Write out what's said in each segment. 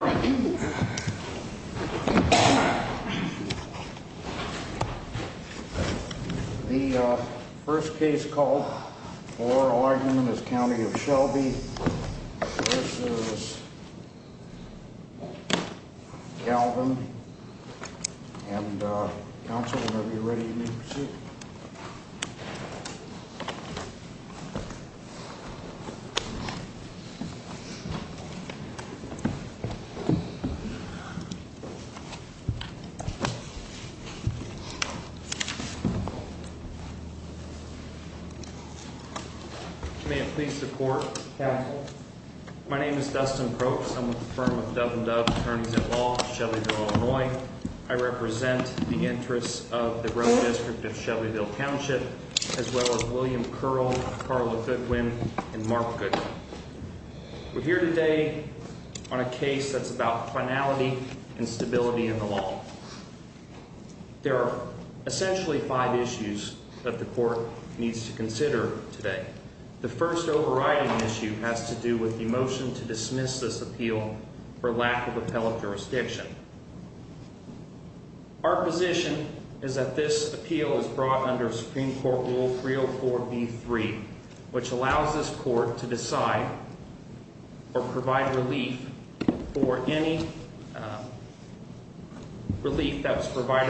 The first case called for argument is County of Shelby v. Galvin and counsel whenever you're ready you may proceed. Thank you. Please support. Thank you. And the reason for that issue has to do with the motion to dismiss this appeal for lack of a fellow jurisdiction. Our position is that this appeal is brought under Supreme Court rule. The motion to dismiss the appeal for lack of a fellow jurisdiction. The motion to dismiss the appeal for lack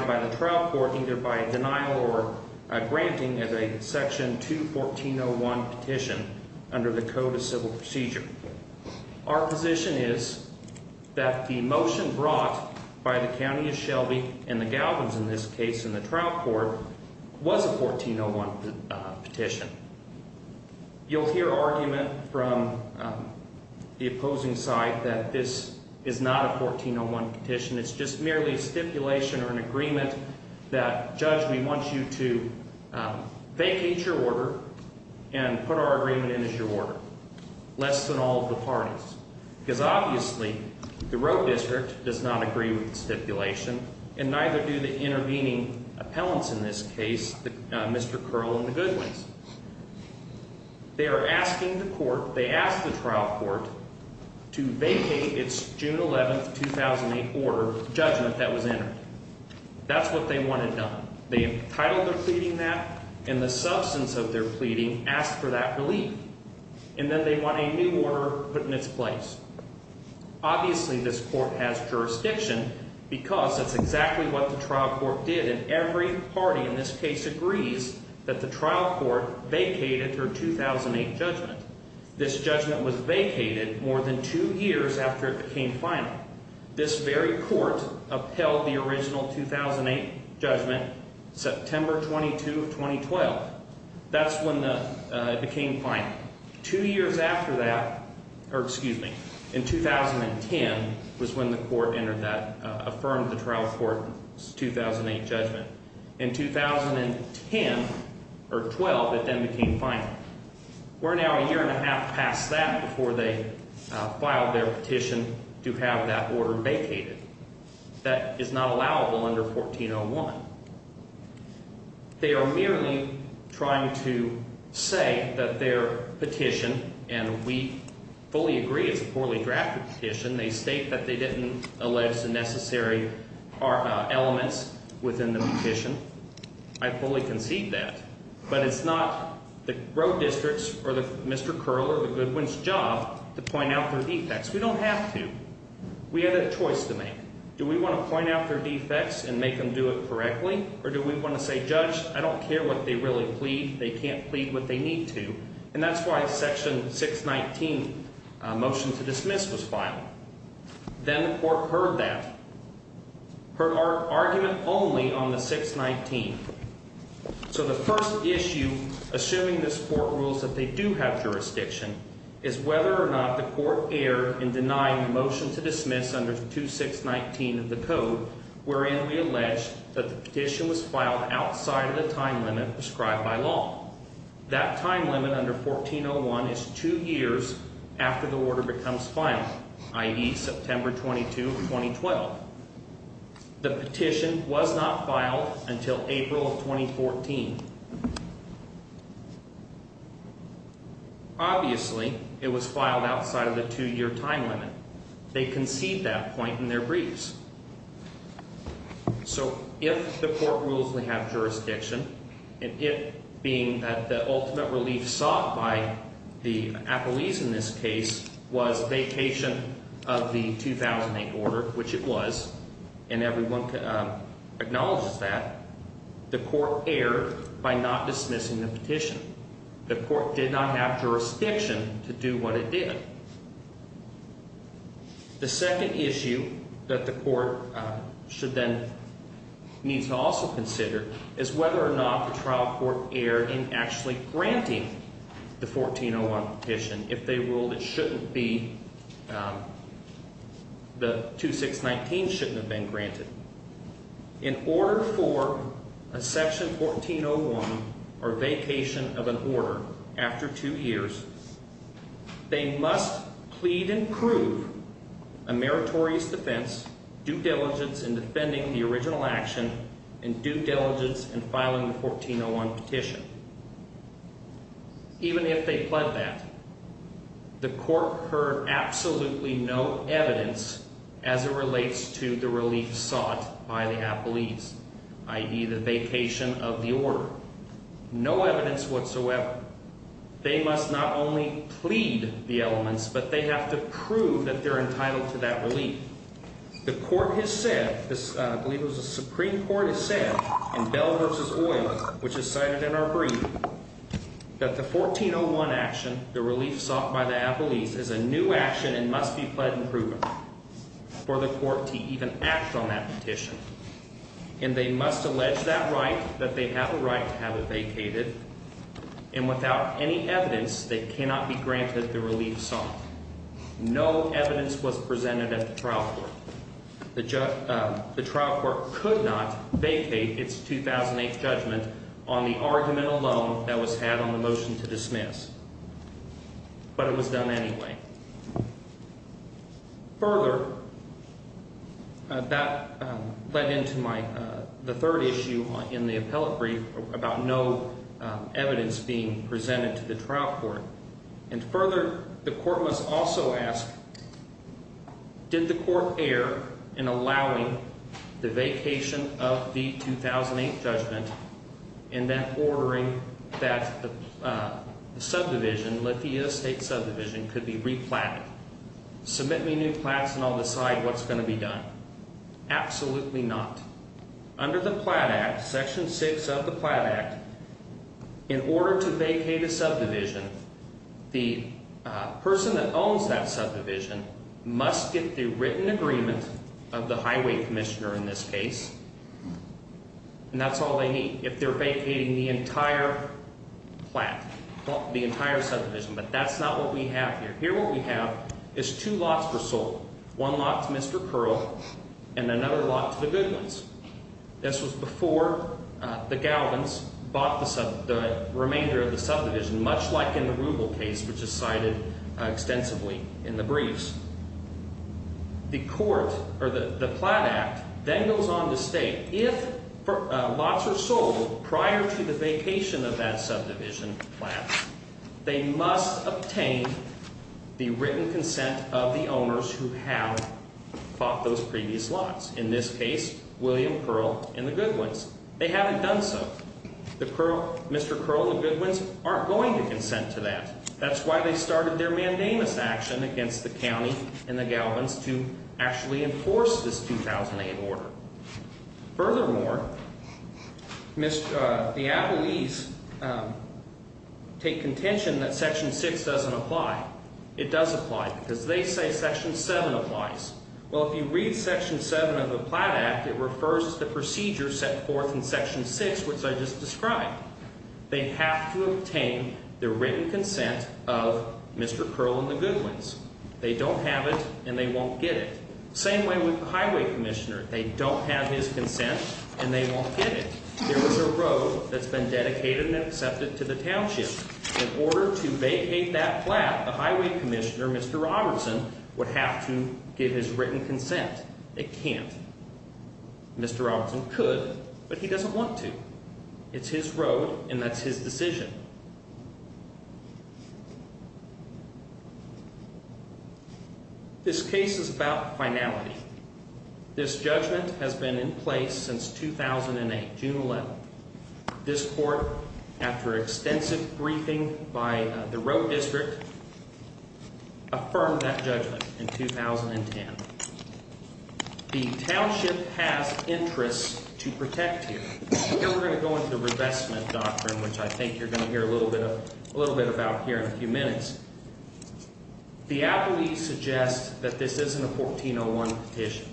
of a fellow jurisdiction. You'll hear argument from the opposing side that this is not a 14 on one petition. It's just merely a stipulation or an agreement that judge. We want you to vacate your order and put our agreement in as your order. Less than all of the parties because obviously the road district does not agree with stipulation and neither do the intervening appellants. For being in violation of defense laws. In this case, Mr Carlin. They are asking the court. They asked the trial court. To June 11, 2008 order that was in. That's what they want. Thank you in the sense of their feeding asked for that. And then they want a new order put in its place. Obviously, this court has jurisdiction because that's exactly what the trial court did. And every party in this case agrees that the trial court vacated her 2008 judgment. This judgment was vacated more than two years after it became final. This very court upheld the original 2008 judgment. September 22, 2012. That's when it became fine. Two years after that. Excuse me. In 2010 was when the court entered that affirmed the trial court 2008 judgment in 2010 or 12. It then became fine. We're now a year and a half past that before they filed their petition to have that order vacated. That is not allowable under 1401. They are merely trying to say that their petition and we fully agree. It's a poorly drafted petition. They state that they didn't allege the necessary elements within the petition. I fully concede that. But it's not the road districts or the Mr. Curler. Goodwin's job to point out their defects. We don't have to. We had a choice to make. Do we want to point out their defects and make them do it correctly? Or do we want to say, Judge, I don't care what they really plead. They can't plead what they need to. And that's why Section 619 motion to dismiss was filed. Then the court heard that. Her argument only on the 619. So the first issue assuming this court rules that they do have jurisdiction is whether or not the court air in denying the motion to dismiss under 2619 of the code. We're in. We allege that the petition was filed outside of the time limit prescribed by law. That time limit under 1401 is two years after the order becomes final, i.e. September 22, 2012. The petition was not filed until April of 2014. Obviously, it was filed outside of the two year time limit. They concede that point in their briefs. So if the court rules we have jurisdiction and it being that the ultimate relief sought by the Apple ease in this case was vacation of the 2008 order, which it was, and everyone acknowledges that the court error by not dismissing the petition. The court did not have jurisdiction to do what it did. The second issue that the court should then needs to also consider is whether or not the trial court air in actually granting the 1401 petition. If they ruled it shouldn't be. The 2619 shouldn't have been granted. In order for a section 1401 or vacation of an order after two years. They must plead and prove a meritorious defense due diligence in defending the original action and due diligence and filing the 1401 petition. Even if they pled that the court heard absolutely no evidence as it relates to the relief sought by the Apple ease, i.e. the vacation of the order. No evidence whatsoever. They must not only plead the elements, but they have to prove that they're entitled to that relief. The court has said this. I believe it was the Supreme Court has said in Bell versus oil, which is cited in our brief that the 1401 action, the relief sought by the Apple ease is a new action and must be pled and proven. For the court to even act on that petition. And they must allege that right that they have a right to have a vacated. And without any evidence, they cannot be granted the relief song. No evidence was presented at the trial court. The trial court could not vacate its 2008 judgment on the argument alone that was had on the motion to dismiss. But it was done anyway. Further. That led into my third issue in the appellate brief about no evidence being presented to the trial court. And further, the court was also asked. Did the court err in allowing the vacation of the 2008 judgment in that ordering that the subdivision, let the state subdivision could be replanted. Submit me new plants and I'll decide what's going to be done. Absolutely not. Section six of the Platt Act. In order to vacate a subdivision, the person that owns that subdivision must get the written agreement of the highway commissioner in this case. And that's all they need. If they're vacating the entire plant, the entire subdivision. But that's not what we have here. What we have is two lots per soul. One lot to Mr. Pearl and another lot to the good ones. This was before the Galvin's bought the remainder of the subdivision, much like in the Rubel case, which is cited extensively in the briefs. The court or the Platt Act then goes on to state if lots are sold prior to the vacation of that subdivision. They must obtain the written consent of the owners who have bought those previous lots. In this case, William Pearl and the good ones. They haven't done so. Mr. Crow, the good ones aren't going to consent to that. That's why they started their mandamus action against the county and the Galvin's to actually enforce this 2008 order. Furthermore, the Appalese take contention that Section 6 doesn't apply. It does apply because they say Section 7 applies. Well, if you read Section 7 of the Platt Act, it refers to the procedure set forth in Section 6, which I just described. They have to obtain the written consent of Mr. Pearl and the good ones. They don't have it and they won't get it. Same way with the highway commissioner. They don't have his consent and they won't get it. There is a road that's been dedicated and accepted to the township. In order to vacate that flat, the highway commissioner, Mr. Robertson, would have to give his written consent. It can't. Mr. Robertson could, but he doesn't want to. It's his road and that's his decision. This case is about finality. This judgment has been in place since 2008, June 11th. This court, after extensive briefing by the road district, affirmed that judgment in 2010. The township has interests to protect here. Here we're going to go into the revestment doctrine, which I think you're going to hear a little bit about here in a few minutes. The appellees suggest that this isn't a 1401 petition.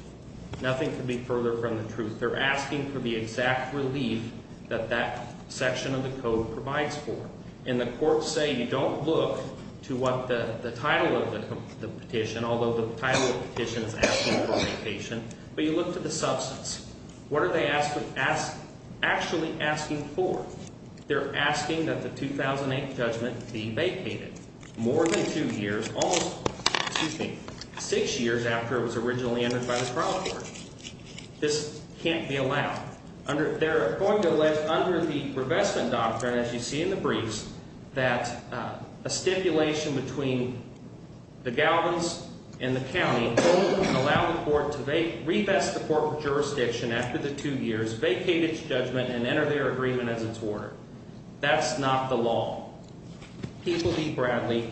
Nothing could be further from the truth. They're asking for the exact relief that that section of the code provides for. And the courts say you don't look to what the title of the petition, although the title of the petition is asking for vacation, but you look to the substance. What are they actually asking for? They're asking that the 2008 judgment be vacated. More than two years, almost six years after it was originally entered by the trial court. This can't be allowed under. They're going to live under the revestment doctrine, as you see in the briefs, that a stipulation between the galvans in the county. Allow the court to revest the court of jurisdiction after the two years vacated judgment and enter their agreement as its order. That's not the law. Bradley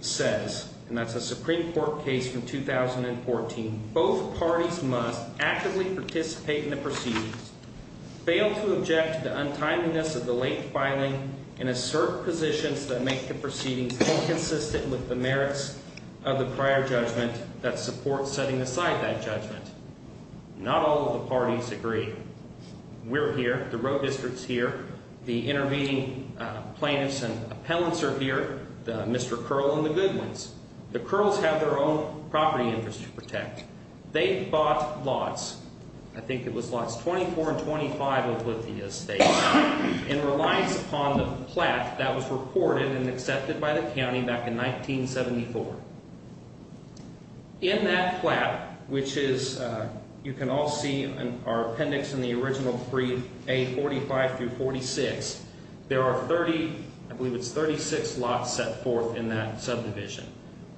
says, and that's a Supreme Court case from 2014. Both parties must actively participate in the proceedings. Fail to object to the untimeliness of the late filing and assert positions that make the proceedings inconsistent with the merits of the prior judgment that support setting aside that judgment. Not all of the parties agree. We're here. The road district's here. The intervening plaintiffs and appellants are here. Mr. Curl and the Goodwins. The Curls have their own property interest to protect. They bought lots. I think it was lots 24 and 25 of Lithia State in reliance upon the plat that was reported and accepted by the county back in 1974. In that plat, which is you can all see our appendix in the original three, a 45 to 46. There are 30. I believe it's 36 lots set forth in that subdivision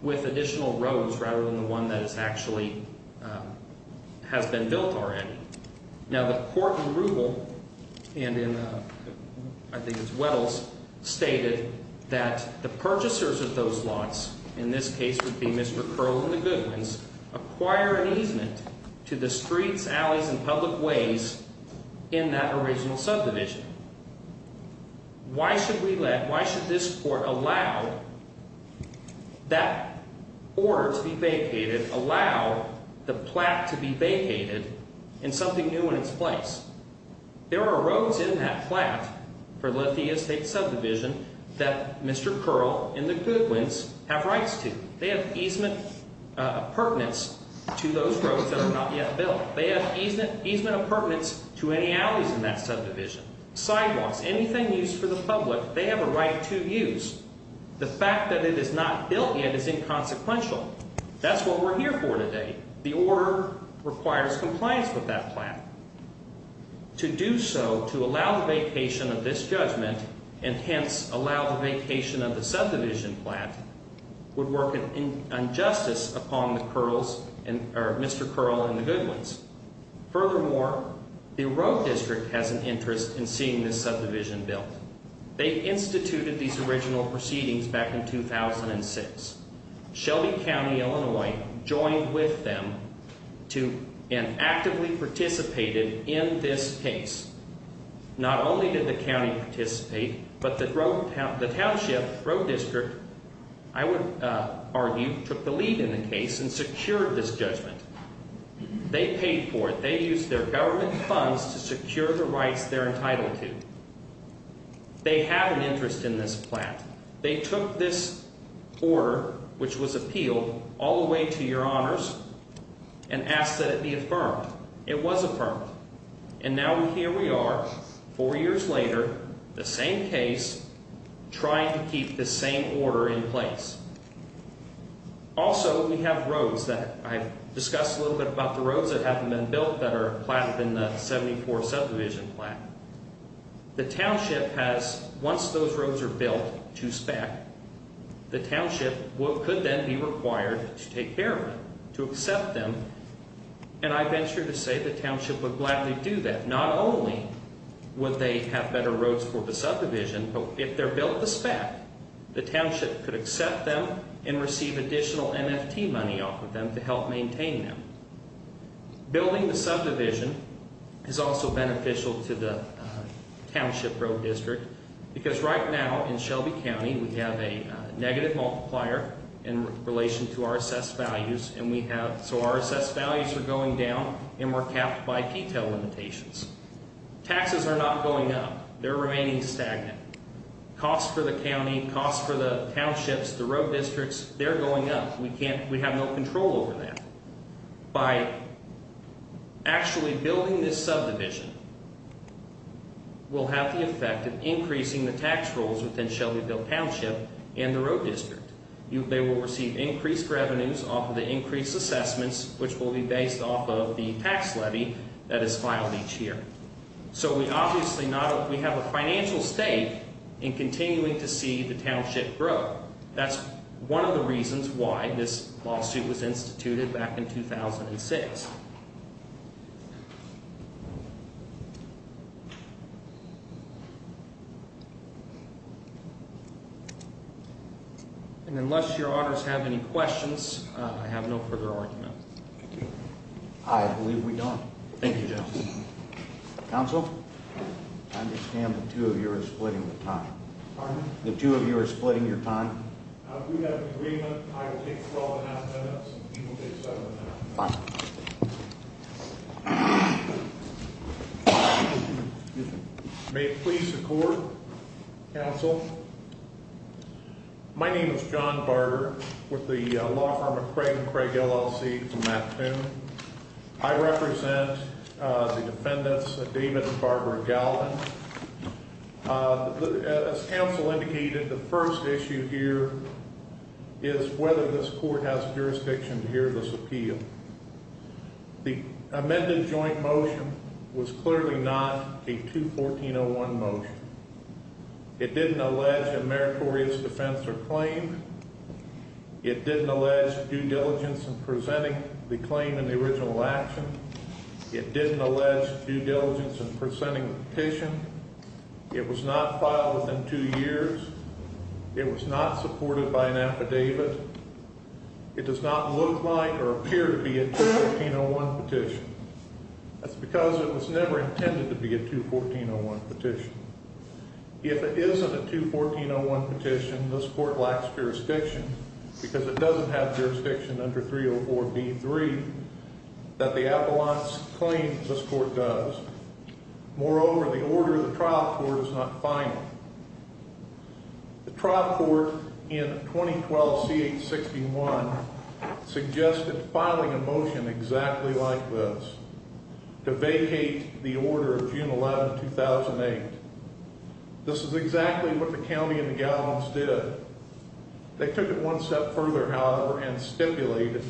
with additional roads rather than the one that is actually has been built already. Now, the court in Rubel and in I think it's Weddell's stated that the purchasers of those lots in this case would be Mr. Curl and the Goodwins acquire an easement to the streets, alleys and public ways in that original subdivision. Why should we let, why should this court allow that order to be vacated, allow the plat to be vacated in something new in its place? There are roads in that plat for Lithia State subdivision that Mr. Curl and the Goodwins have rights to. They have easement of pertinence to those roads that are not yet built. They have easement of pertinence to any alleys in that subdivision, sidewalks, anything used for the public. They have a right to use. The fact that it is not built yet is inconsequential. That's what we're here for today. The order requires compliance with that plat. To do so, to allow the vacation of this judgment and hence allow the vacation of the subdivision plat would work an injustice upon the Curls, Mr. Curl and the Goodwins. Furthermore, the road district has an interest in seeing this subdivision built. They instituted these original proceedings back in 2006. Shelby County, Illinois, joined with them and actively participated in this case. Not only did the county participate, but the township, road district, I would argue, took the lead in the case and secured this judgment. They paid for it. They used their government funds to secure the rights they're entitled to. They have an interest in this plat. They took this order, which was appealed, all the way to your honors and asked that it be affirmed. It was affirmed. And now here we are, four years later, the same case, trying to keep the same order in place. Also, we have roads that I discussed a little bit about the roads that haven't been built that are platted in the 74 subdivision plat. The township has, once those roads are built to SPAC, the township could then be required to take care of it, to accept them. And I venture to say the township would gladly do that. Not only would they have better roads for the subdivision, but if they're built to SPAC, the township could accept them and receive additional NFT money off of them to help maintain them. Building the subdivision is also beneficial to the township road district because right now, in Shelby County, we have a negative multiplier in relation to our assessed values. And so our assessed values are going down, and we're capped by P-TIL limitations. Taxes are not going up. They're remaining stagnant. Costs for the county, costs for the townships, the road districts, they're going up. We have no control over that. By actually building this subdivision, we'll have the effect of increasing the tax rolls within Shelbyville Township and the road district. They will receive increased revenues off of the increased assessments, which will be based off of the tax levy that is filed each year. So we obviously have a financial stake in continuing to see the township grow. That's one of the reasons why this lawsuit was instituted back in 2006. And unless your honors have any questions, I have no further argument. I believe we don't. Thank you, General. Counsel, I understand the two of you are splitting the time. Pardon me? The two of you are splitting your time. We have an agreement. I will take 12 and a half minutes, and he will take seven and a half. Fine. May it please the court, counsel. My name is John Barber with the law firm of Craig & Craig, LLC, from Mattoon. I represent the defendants, David and Barbara Galvin. As counsel indicated, the first issue here is whether this court has jurisdiction to hear this appeal. The amended joint motion was clearly not a 214-01 motion. It didn't allege a meritorious defense or claim. It didn't allege due diligence in presenting the claim and the original action. It didn't allege due diligence in presenting the petition. It was not filed within two years. It was not supported by an affidavit. It does not look like or appear to be a 214-01 petition. That's because it was never intended to be a 214-01 petition. If it isn't a 214-01 petition, this court lacks jurisdiction because it doesn't have jurisdiction under 304b-3 that the appellants claim this court does. Moreover, the order of the trial court is not final. The trial court in 2012-C-861 suggested filing a motion exactly like this to vacate the order of June 11, 2008. This is exactly what the county and the gallants did. They took it one step further, however, and stipulated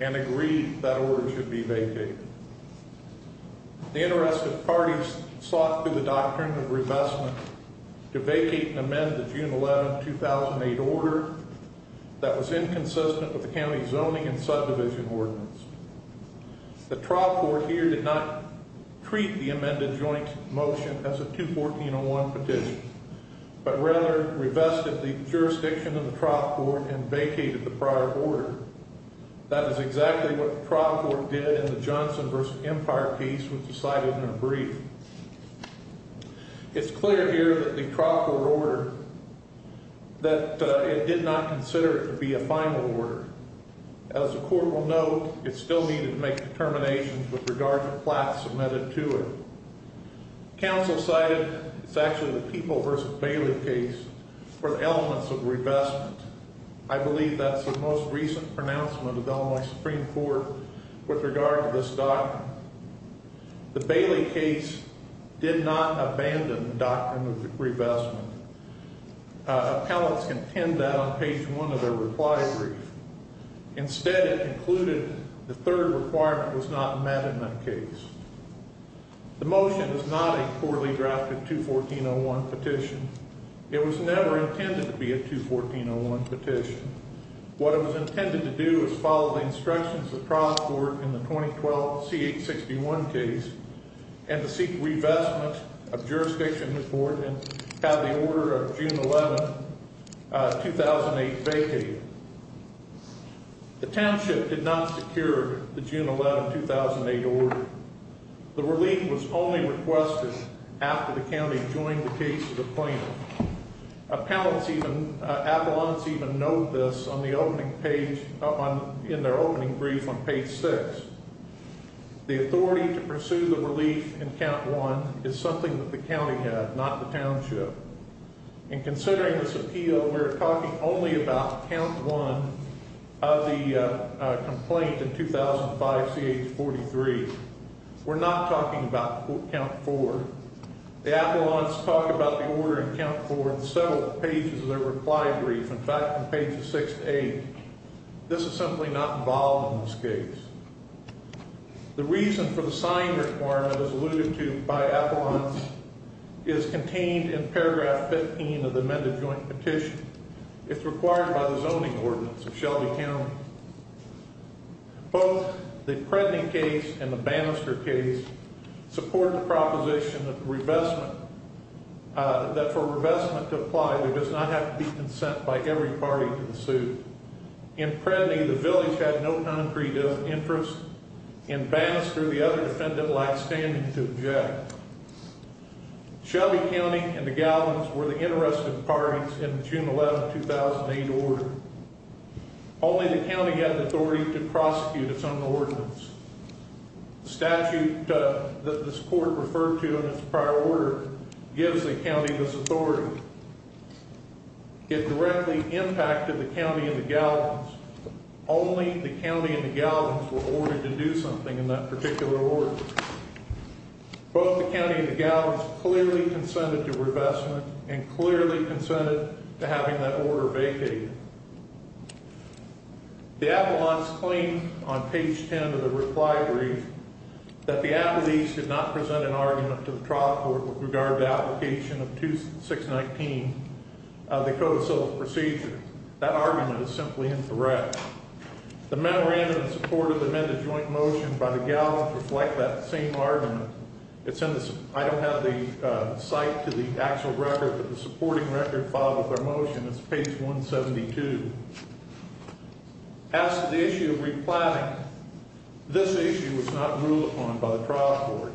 and agreed that order should be vacated. The interested parties sought through the doctrine of revestment to vacate and amend the June 11, 2008 order that was inconsistent with the county zoning and subdivision ordinance. The trial court here did not treat the amended joint motion as a 214-01 petition, but rather revested the jurisdiction of the trial court and vacated the prior order. That is exactly what the trial court did in the Johnson v. Empire case, which was cited in a brief. It's clear here that the trial court order, that it did not consider it to be a final order. As the court will note, it still needed to make determinations with regard to flats submitted to it. Counsel cited, it's actually the People v. Bailey case, for the elements of revestment. I believe that's the most recent pronouncement of Illinois Supreme Court with regard to this doctrine. The Bailey case did not abandon the doctrine of revestment. Appellants contend that on page one of their reply brief. Instead, it concluded the third requirement was not met in that case. The motion is not a poorly drafted 214-01 petition. It was never intended to be a 214-01 petition. What it was intended to do is follow the instructions of the trial court in the 2012 C-861 case and to seek revestment of jurisdiction in the court and have the order of June 11, 2008 vacated. The township did not secure the June 11, 2008 order. The relief was only requested after the county joined the case of the plaintiff. Appellants even note this in their opening brief on page six. The authority to pursue the relief in count one is something that the county had, not the township. In considering this appeal, we're talking only about count one of the complaint in 2005 CH-43. We're not talking about count four. The appellants talk about the order in count four in several pages of their reply brief. In fact, in page six to eight, this is simply not involved in this case. The reason for the sign requirement, as alluded to by appellants, is contained in paragraph 15 of the amended joint petition. It's required by the zoning ordinance of Shelby County. Both the Predney case and the Bannister case support the proposition that for revestment to apply, there does not have to be consent by every party to the suit. In Predney, the village had no concrete interest, and Bannister, the other defendant, lacked standing to object. Shelby County and the galleons were the interested parties in the June 11, 2008 order. Only the county had the authority to prosecute its own ordinance. The statute that this court referred to in its prior order gives the county this authority. It directly impacted the county and the galleons. Only the county and the galleons were ordered to do something in that particular order. Both the county and the galleons clearly consented to revestment and clearly consented to having that order vacated. The appellants claim on page 10 of the reply brief that the appellees did not present an argument to the trial court with regard to application of 2619 of the co-decile procedure. That argument is simply incorrect. The memorandum in support of the amended joint motion by the galleons reflect that same argument. I don't have the cite to the actual record, but the supporting record filed with our motion is page 172. As to the issue of replatting, this issue was not ruled upon by the trial court.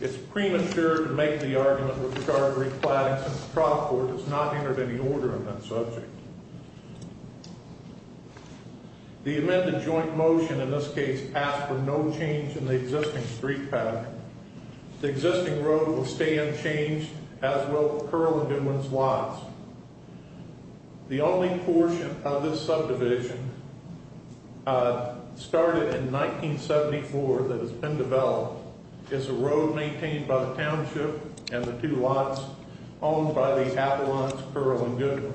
It's premature to make the argument with regard to replatting since the trial court has not entered any order on that subject. The amended joint motion in this case passed with no change in the existing street pattern. The existing road will stay unchanged as will Curl and Goodwin's lots. The only portion of this subdivision started in 1974 that has been developed is a road maintained by the township and the two lots owned by the appellants Curl and Goodwin.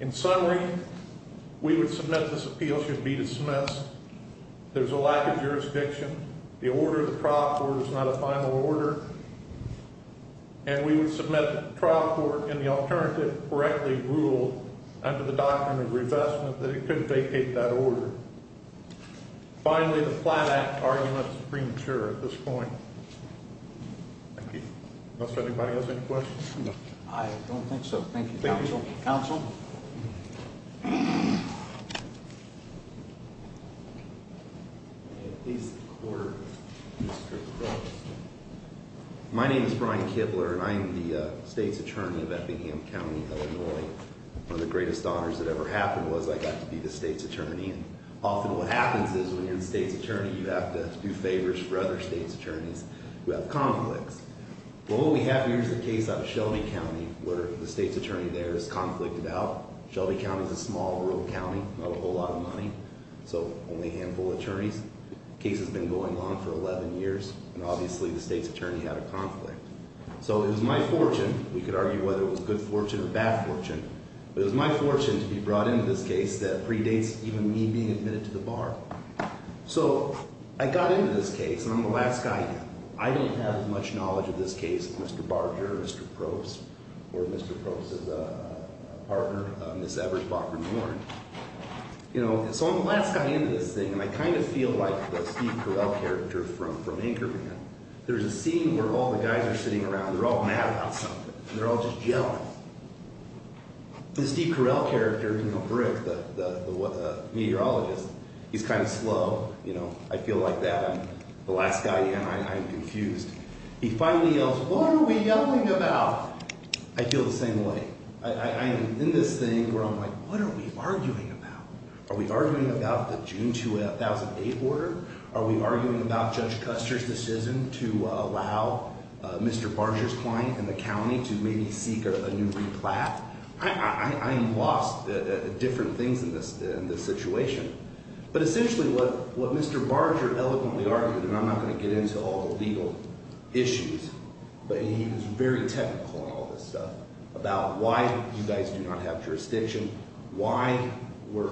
In summary, we would submit this appeal should be dismissed. There's a lack of jurisdiction. The order of the trial court is not a final order. And we would submit the trial court in the alternative correctly ruled under the doctrine of revestment that it could vacate that order. Finally, the flat act argument premature at this point. Does anybody have any questions? I don't think so. Thank you, counsel. My name is Brian Kibler and I am the state's attorney of Eppingham County, Illinois. One of the greatest honors that ever happened was I got to be the state's attorney. Often what happens is when you're the state's attorney, you have to do favors for other state's attorneys who have conflicts. Well, what we have here is a case out of Shelby County where the state's attorney there is conflicted out. Shelby County is a small rural county, not a whole lot of money, so only a handful of attorneys. The case has been going on for 11 years, and obviously the state's attorney had a conflict. So it was my fortune, we could argue whether it was good fortune or bad fortune, but it was my fortune to be brought into this case that predates even me being admitted to the bar. So I got into this case, and I'm the last guy in. I don't have as much knowledge of this case as Mr. Barger or Mr. Probst or Mr. Probst's partner, Ms. Evers, Bachman, Warren. You know, so I'm the last guy in this thing, and I kind of feel like the Steve Carell character from Anchorman. There's a scene where all the guys are sitting around, they're all mad about something. They're all just jealous. This Steve Carell character, you know, Rick, the meteorologist, he's kind of slow. You know, I feel like that. I'm the last guy in. I'm confused. He finally yells, what are we yelling about? I feel the same way. I am in this thing where I'm like, what are we arguing about? Are we arguing about the June 2008 order? Are we arguing about Judge Custer's decision to allow Mr. Barger's client in the county to maybe seek a new replat? I am lost at different things in this situation. But essentially what Mr. Barger eloquently argued, and I'm not going to get into all the legal issues, but he was very technical on all this stuff, about why you guys do not have jurisdiction, why we're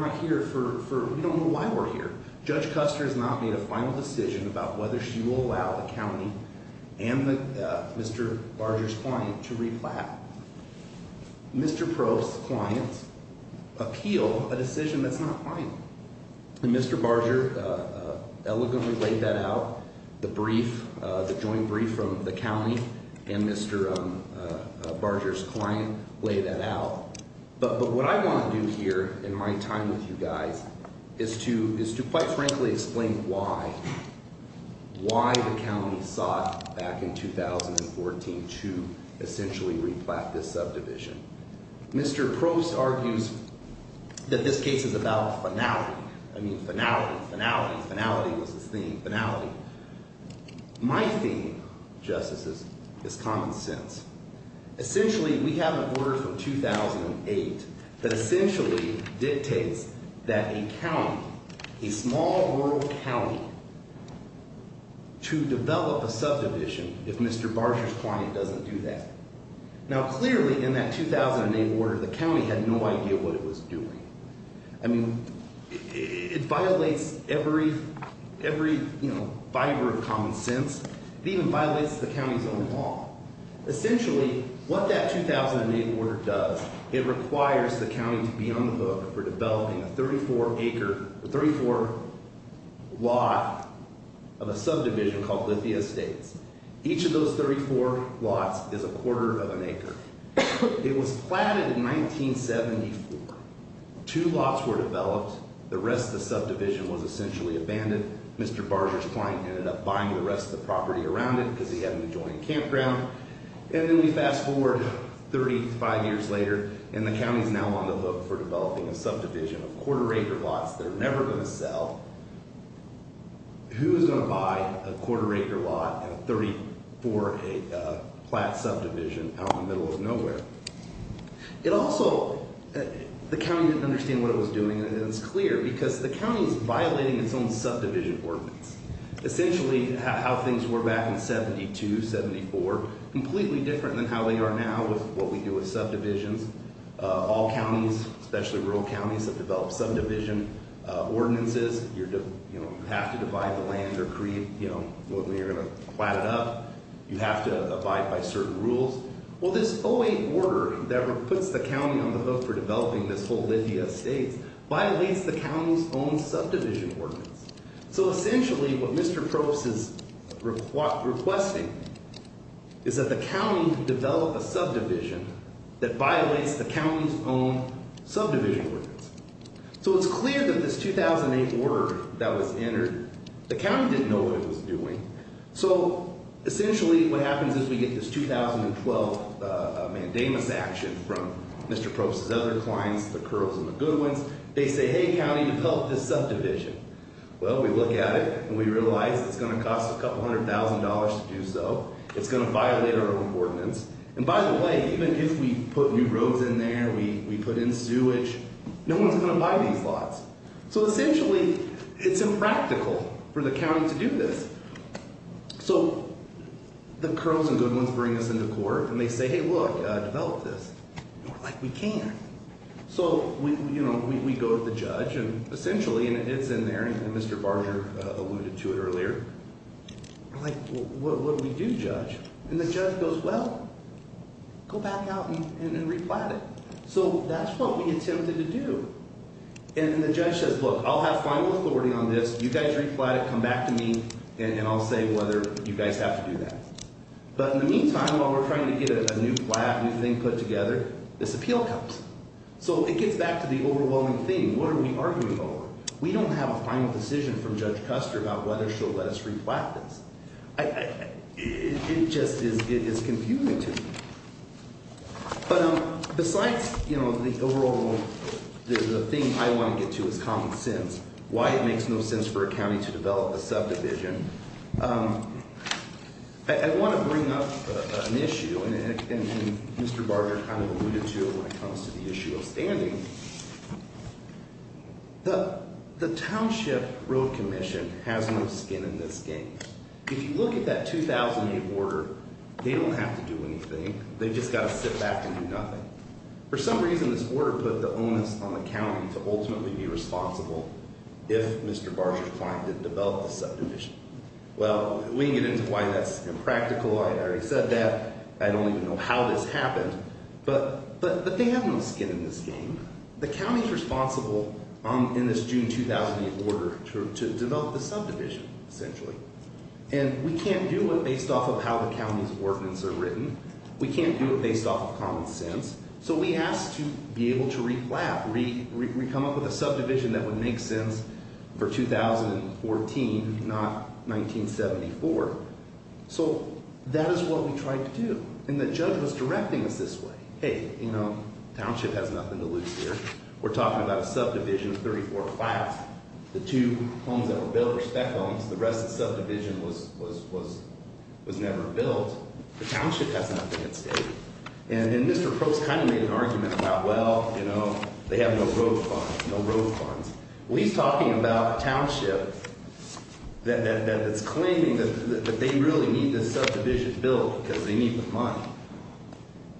not here for, we don't know why we're here. Judge Custer has not made a final decision about whether she will allow the county and Mr. Barger's client to replat. Mr. Probe's client appealed a decision that's not final. And Mr. Barger elegantly laid that out. The brief, the joint brief from the county and Mr. Barger's client laid that out. But what I want to do here in my time with you guys is to quite frankly explain why the county sought back in 2014 to essentially replat this subdivision. Mr. Probe argues that this case is about finality. I mean, finality, finality, finality was his theme, finality. My theme, Justices, is common sense. Essentially, we have an order from 2008 that essentially dictates that a county, a small rural county, to develop a subdivision if Mr. Barger's client doesn't do that. Now, clearly, in that 2008 order, the county had no idea what it was doing. I mean, it violates every fiber of common sense. It even violates the county's own law. Essentially, what that 2008 order does, it requires the county to be on the hook for developing a 34-acre, a 34-lot of a subdivision called Lithia Estates. Each of those 34 lots is a quarter of an acre. It was platted in 1974. Two lots were developed. The rest of the subdivision was essentially abandoned. Mr. Barger's client ended up buying the rest of the property around it because he had an adjoining campground. And then we fast forward 35 years later, and the county's now on the hook for developing a subdivision of quarter-acre lots. They're never going to sell. Who's going to buy a quarter-acre lot and a 34-acre plat subdivision out in the middle of nowhere? It also – the county didn't understand what it was doing, and it's clear, because the county is violating its own subdivision ordinance. Essentially, how things were back in 72, 74, completely different than how they are now with what we do with subdivisions. All counties, especially rural counties, have developed subdivision ordinances. You have to divide the land or create – when you're going to plat it up, you have to abide by certain rules. Well, this 08 order that puts the county on the hook for developing this whole Lithia Estates violates the county's own subdivision ordinance. So essentially, what Mr. Probst is requesting is that the county develop a subdivision that violates the county's own subdivision ordinance. So it's clear that this 2008 order that was entered, the county didn't know what it was doing. So essentially, what happens is we get this 2012 mandamus action from Mr. Probst's other clients, the Curls and the Goodwins. They say, hey, county, you've helped this subdivision. Well, we look at it, and we realize it's going to cost a couple hundred thousand dollars to do so. It's going to violate our own ordinance. And by the way, even if we put new roads in there, we put in sewage, no one's going to buy these lots. So essentially, it's impractical for the county to do this. So the Curls and Goodwins bring us into court, and they say, hey, look, develop this. We're like, we can't. So we go to the judge, and essentially, it's in there, and Mr. Barger alluded to it earlier. We're like, what do we do, judge? And the judge goes, well, go back out and replant it. So that's what we attempted to do. And the judge says, look, I'll have final authority on this. You guys replant it, come back to me, and I'll say whether you guys have to do that. But in the meantime, while we're trying to get a new plant, a new thing put together, this appeal comes. So it gets back to the overwhelming thing. What are we arguing over? We don't have a final decision from Judge Custer about whether she'll let us replant this. It just is confusing to me. But besides the overall thing I want to get to is common sense, why it makes no sense for a county to develop a subdivision. I want to bring up an issue, and Mr. Barger kind of alluded to it when it comes to the issue of standing. The Township Road Commission has no skin in this game. If you look at that 2008 order, they don't have to do anything. They've just got to sit back and do nothing. For some reason, this order put the onus on the county to ultimately be responsible if Mr. Barger's client didn't develop the subdivision. Well, we can get into why that's impractical. I already said that. I don't even know how this happened. But they have no skin in this game. The county is responsible in this June 2008 order to develop the subdivision, essentially. And we can't do it based off of how the county's ordinance are written. We can't do it based off of common sense. So we asked to be able to re-flat, re-come up with a subdivision that would make sense for 2014, not 1974. So that is what we tried to do. And the judge was directing us this way. Hey, you know, the township has nothing to lose here. We're talking about a subdivision, 34 flats. The two homes that were built were spec homes. The rest of the subdivision was never built. The township has nothing to say. And then Mr. Probst kind of made an argument about, well, you know, they have no road funds, no road funds. Well, he's talking about a township that's claiming that they really need this subdivision built because they need the money.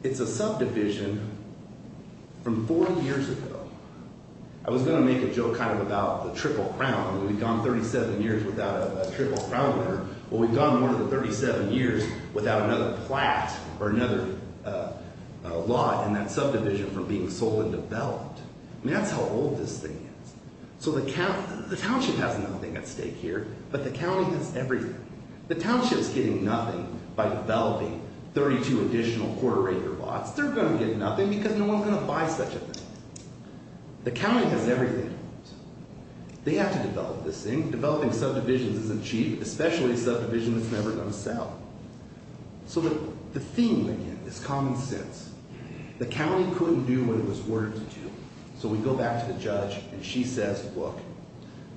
It's a subdivision from 40 years ago. I was going to make a joke kind of about the triple crown. We've gone 37 years without a triple crown order. Well, we've gone more than 37 years without another flat or another lot in that subdivision from being sold and developed. I mean, that's how old this thing is. So the township has nothing at stake here, but the county has everything. The township is getting nothing by developing 32 additional quarter acre lots. They're going to get nothing because no one is going to buy such a thing. The county has everything. They have to develop this thing. Developing subdivisions isn't cheap, especially a subdivision that's never going to sell. So the theme, again, is common sense. The county couldn't do what it was ordered to do. So we go back to the judge, and she says, look,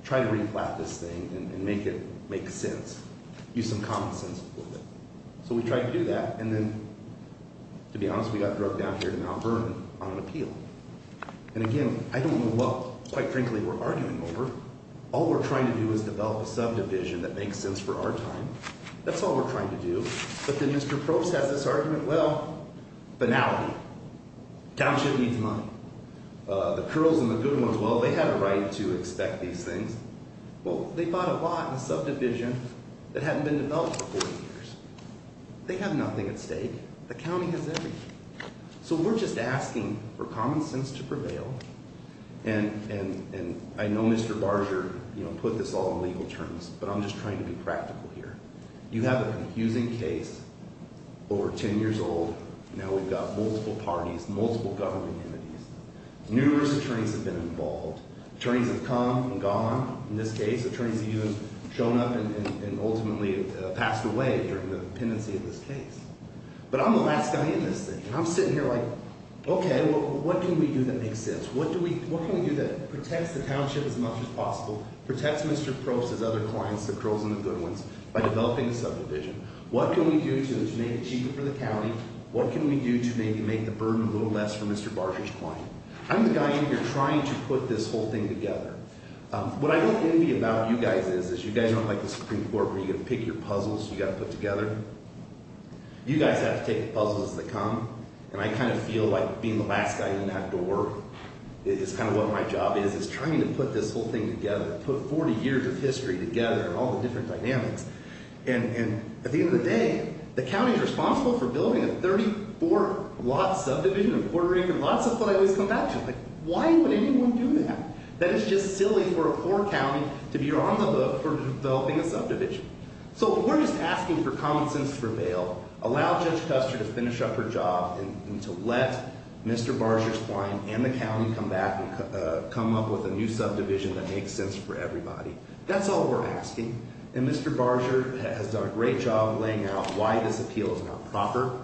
try to re-flat this thing and make it make sense. Use some common sense with it. So we tried to do that, and then, to be honest, we got drug down here to Mount Vernon on an appeal. And, again, I don't know what, quite frankly, we're arguing over. All we're trying to do is develop a subdivision that makes sense for our time. That's all we're trying to do. But then Mr. Probst has this argument, well, banality. Township needs money. The Curls and the Good Ones, well, they had a right to expect these things. Well, they bought a lot in a subdivision that hadn't been developed for 40 years. They have nothing at stake. So we're just asking for common sense to prevail. And I know Mr. Barger put this all in legal terms, but I'm just trying to be practical here. You have a confusing case, over 10 years old. Now we've got multiple parties, multiple government entities. Numerous attorneys have been involved. Attorneys have come and gone in this case. Attorneys have even shown up and ultimately passed away during the pendency of this case. But I'm the last guy in this thing, and I'm sitting here like, okay, well, what can we do that makes sense? What can we do that protects the township as much as possible, protects Mr. Probst's other clients, the Curls and the Good Ones, by developing a subdivision? What can we do to make it cheaper for the county? What can we do to maybe make the burden a little less for Mr. Barger's client? I'm the guy in here trying to put this whole thing together. What I get envy about you guys is you guys aren't like the Supreme Court where you get to pick your puzzles you've got to put together. You guys have to take the puzzles that come. And I kind of feel like being the last guy in that door is kind of what my job is. It's trying to put this whole thing together, put 40 years of history together and all the different dynamics. And at the end of the day, the county is responsible for building a 34-lot subdivision in Puerto Rico, lots of what I always come back to. Why would anyone do that? That is just silly for a poor county to be on the hook for developing a subdivision. So we're just asking for common sense for bail. Allow Judge Custer to finish up her job and to let Mr. Barger's client and the county come back and come up with a new subdivision that makes sense for everybody. That's all we're asking. And Mr. Barger has done a great job laying out why this appeal is not proper.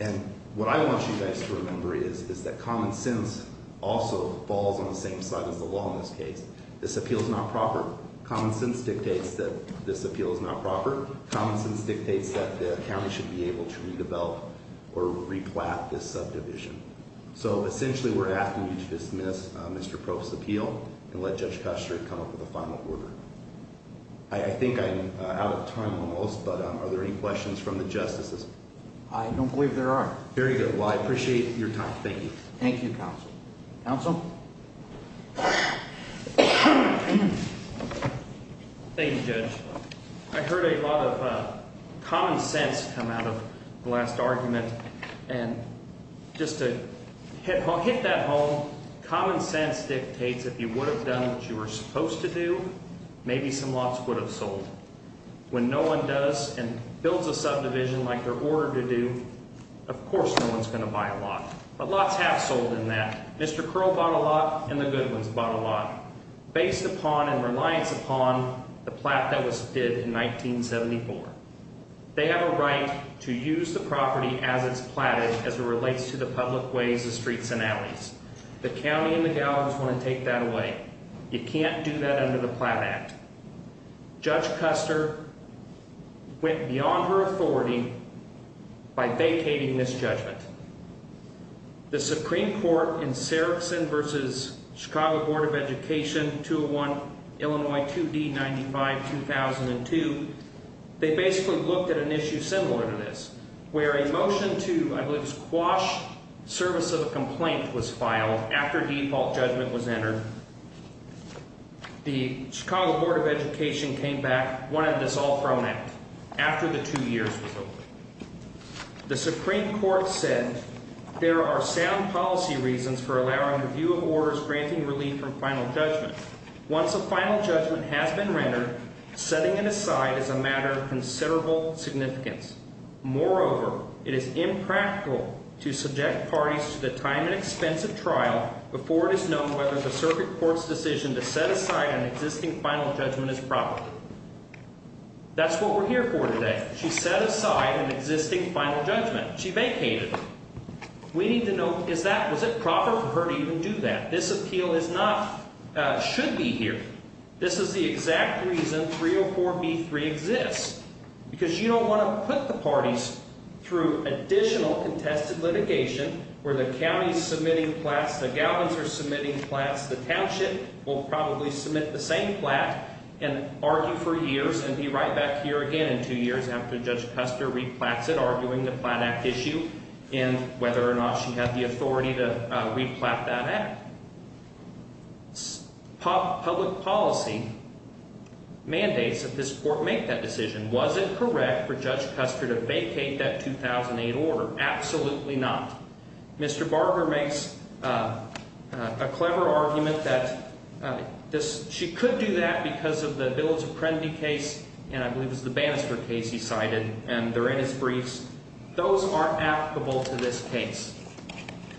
And what I want you guys to remember is that common sense also falls on the same side as the law in this case. This appeal is not proper. Common sense dictates that this appeal is not proper. Common sense dictates that the county should be able to redevelop or replant this subdivision. So essentially we're asking you to dismiss Mr. Proff's appeal and let Judge Custer come up with a final order. I think I'm out of time almost, but are there any questions from the justices? I don't believe there are. Very good. Well, I appreciate your time. Thank you. Thank you, Counsel. Counsel? Thank you, Judge. I heard a lot of common sense come out of the last argument. And just to hit that home, common sense dictates if you would have done what you were supposed to do, maybe some lots would have sold. When no one does and builds a subdivision like they're ordered to do, of course no one's going to buy a lot. But lots have sold in that. Mr. Curl bought a lot and the Goodwins bought a lot based upon and reliance upon the plat that was bid in 1974. They have a right to use the property as it's platted as it relates to the public ways, the streets, and alleys. The county and the governors want to take that away. You can't do that under the Plat Act. Judge Custer went beyond her authority by vacating this judgment. The Supreme Court in Sarefson v. Chicago Board of Education, 201, Illinois 2D95-2002, they basically looked at an issue similar to this, where a motion to, I believe it was Quash, service of a complaint was filed after default judgment was entered. The Chicago Board of Education came back, wanted this all thrown out after the two years was over. The Supreme Court said there are sound policy reasons for allowing review of orders granting relief from final judgment. Once a final judgment has been rendered, setting it aside is a matter of considerable significance. Moreover, it is impractical to subject parties to the time and expense of trial before it is known whether the circuit court's decision to set aside an existing final judgment is proper. That's what we're here for today. She set aside an existing final judgment. She vacated it. We need to know, is that, was it proper for her to even do that? This appeal is not, should be here. This is the exact reason 304B3 exists, because you don't want to put the parties through additional contested litigation where the county's submitting plats, the Galvin's are submitting plats, the township will probably submit the same plat and argue for years and be right back here again in two years after Judge Custer replats it, arguing the plat act issue and whether or not she had the authority to replat that act. Public policy mandates that this court make that decision. Was it correct for Judge Custer to vacate that 2008 order? Absolutely not. Mr. Barber makes a clever argument that she could do that because of the Bills of Prendy case, and I believe it was the Bannister case he cited, and they're in his briefs. Those aren't applicable to this case.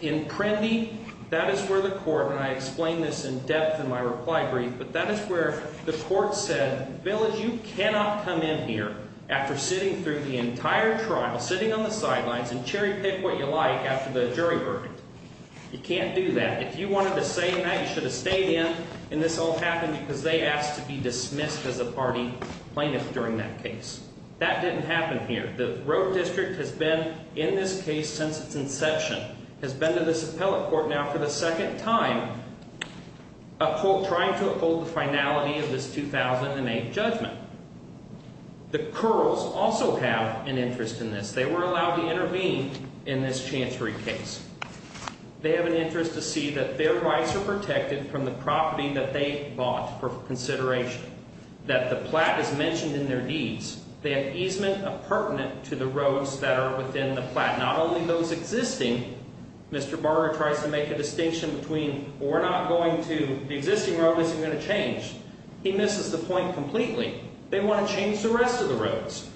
In Prendy, that is where the court, and I explained this in depth in my reply brief, but that is where the court said, Bill, you cannot come in here after sitting through the entire trial, sitting on the sidelines and cherry pick what you like after the jury verdict. You can't do that. If you wanted to say that, you should have stayed in, and this all happened because they asked to be dismissed as a party plaintiff during that case. That didn't happen here. The road district has been in this case since its inception, has been to this appellate court now for the second time, trying to uphold the finality of this 2008 judgment. The Curls also have an interest in this. They were allowed to intervene in this Chancery case. They have an interest to see that their rights are protected from the property that they bought for consideration, that the plat is mentioned in their deeds. They have easement appurtenant to the roads that are within the plat. Not only those existing, Mr. Barger tries to make a distinction between we're not going to, the existing road isn't going to change. He misses the point completely. They want to change the rest of the roads.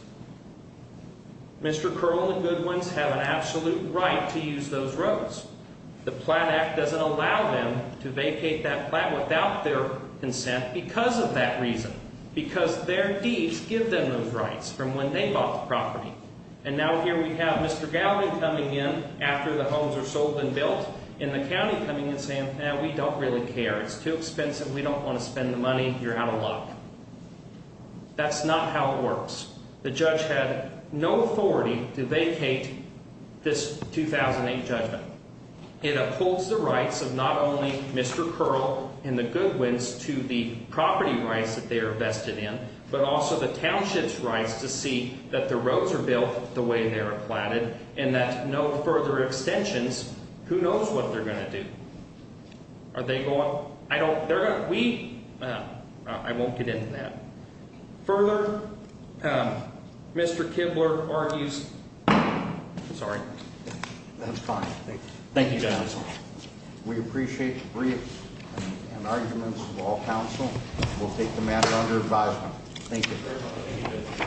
Mr. Curl and the Goodwins have an absolute right to use those roads. The Plat Act doesn't allow them to vacate that plat without their consent because of that reason, because their deeds give them those rights from when they bought the property. And now here we have Mr. Gowden coming in after the homes are sold and built and the county coming and saying, no, we don't really care. It's too expensive. We don't want to spend the money. You're out of luck. That's not how it works. The judge had no authority to vacate this 2008 judgment. It upholds the rights of not only Mr. Curl and the Goodwins to the property rights that they are vested in, but also the township's rights to see that the roads are built the way they are platted and that no further extensions. Who knows what they're going to do? Are they going? I don't. We I won't get into that further. Mr. Kibler argues. Sorry, that's fine. Thank you. We appreciate the brief arguments of all counsel. We'll take the matter under advisement. Thank you.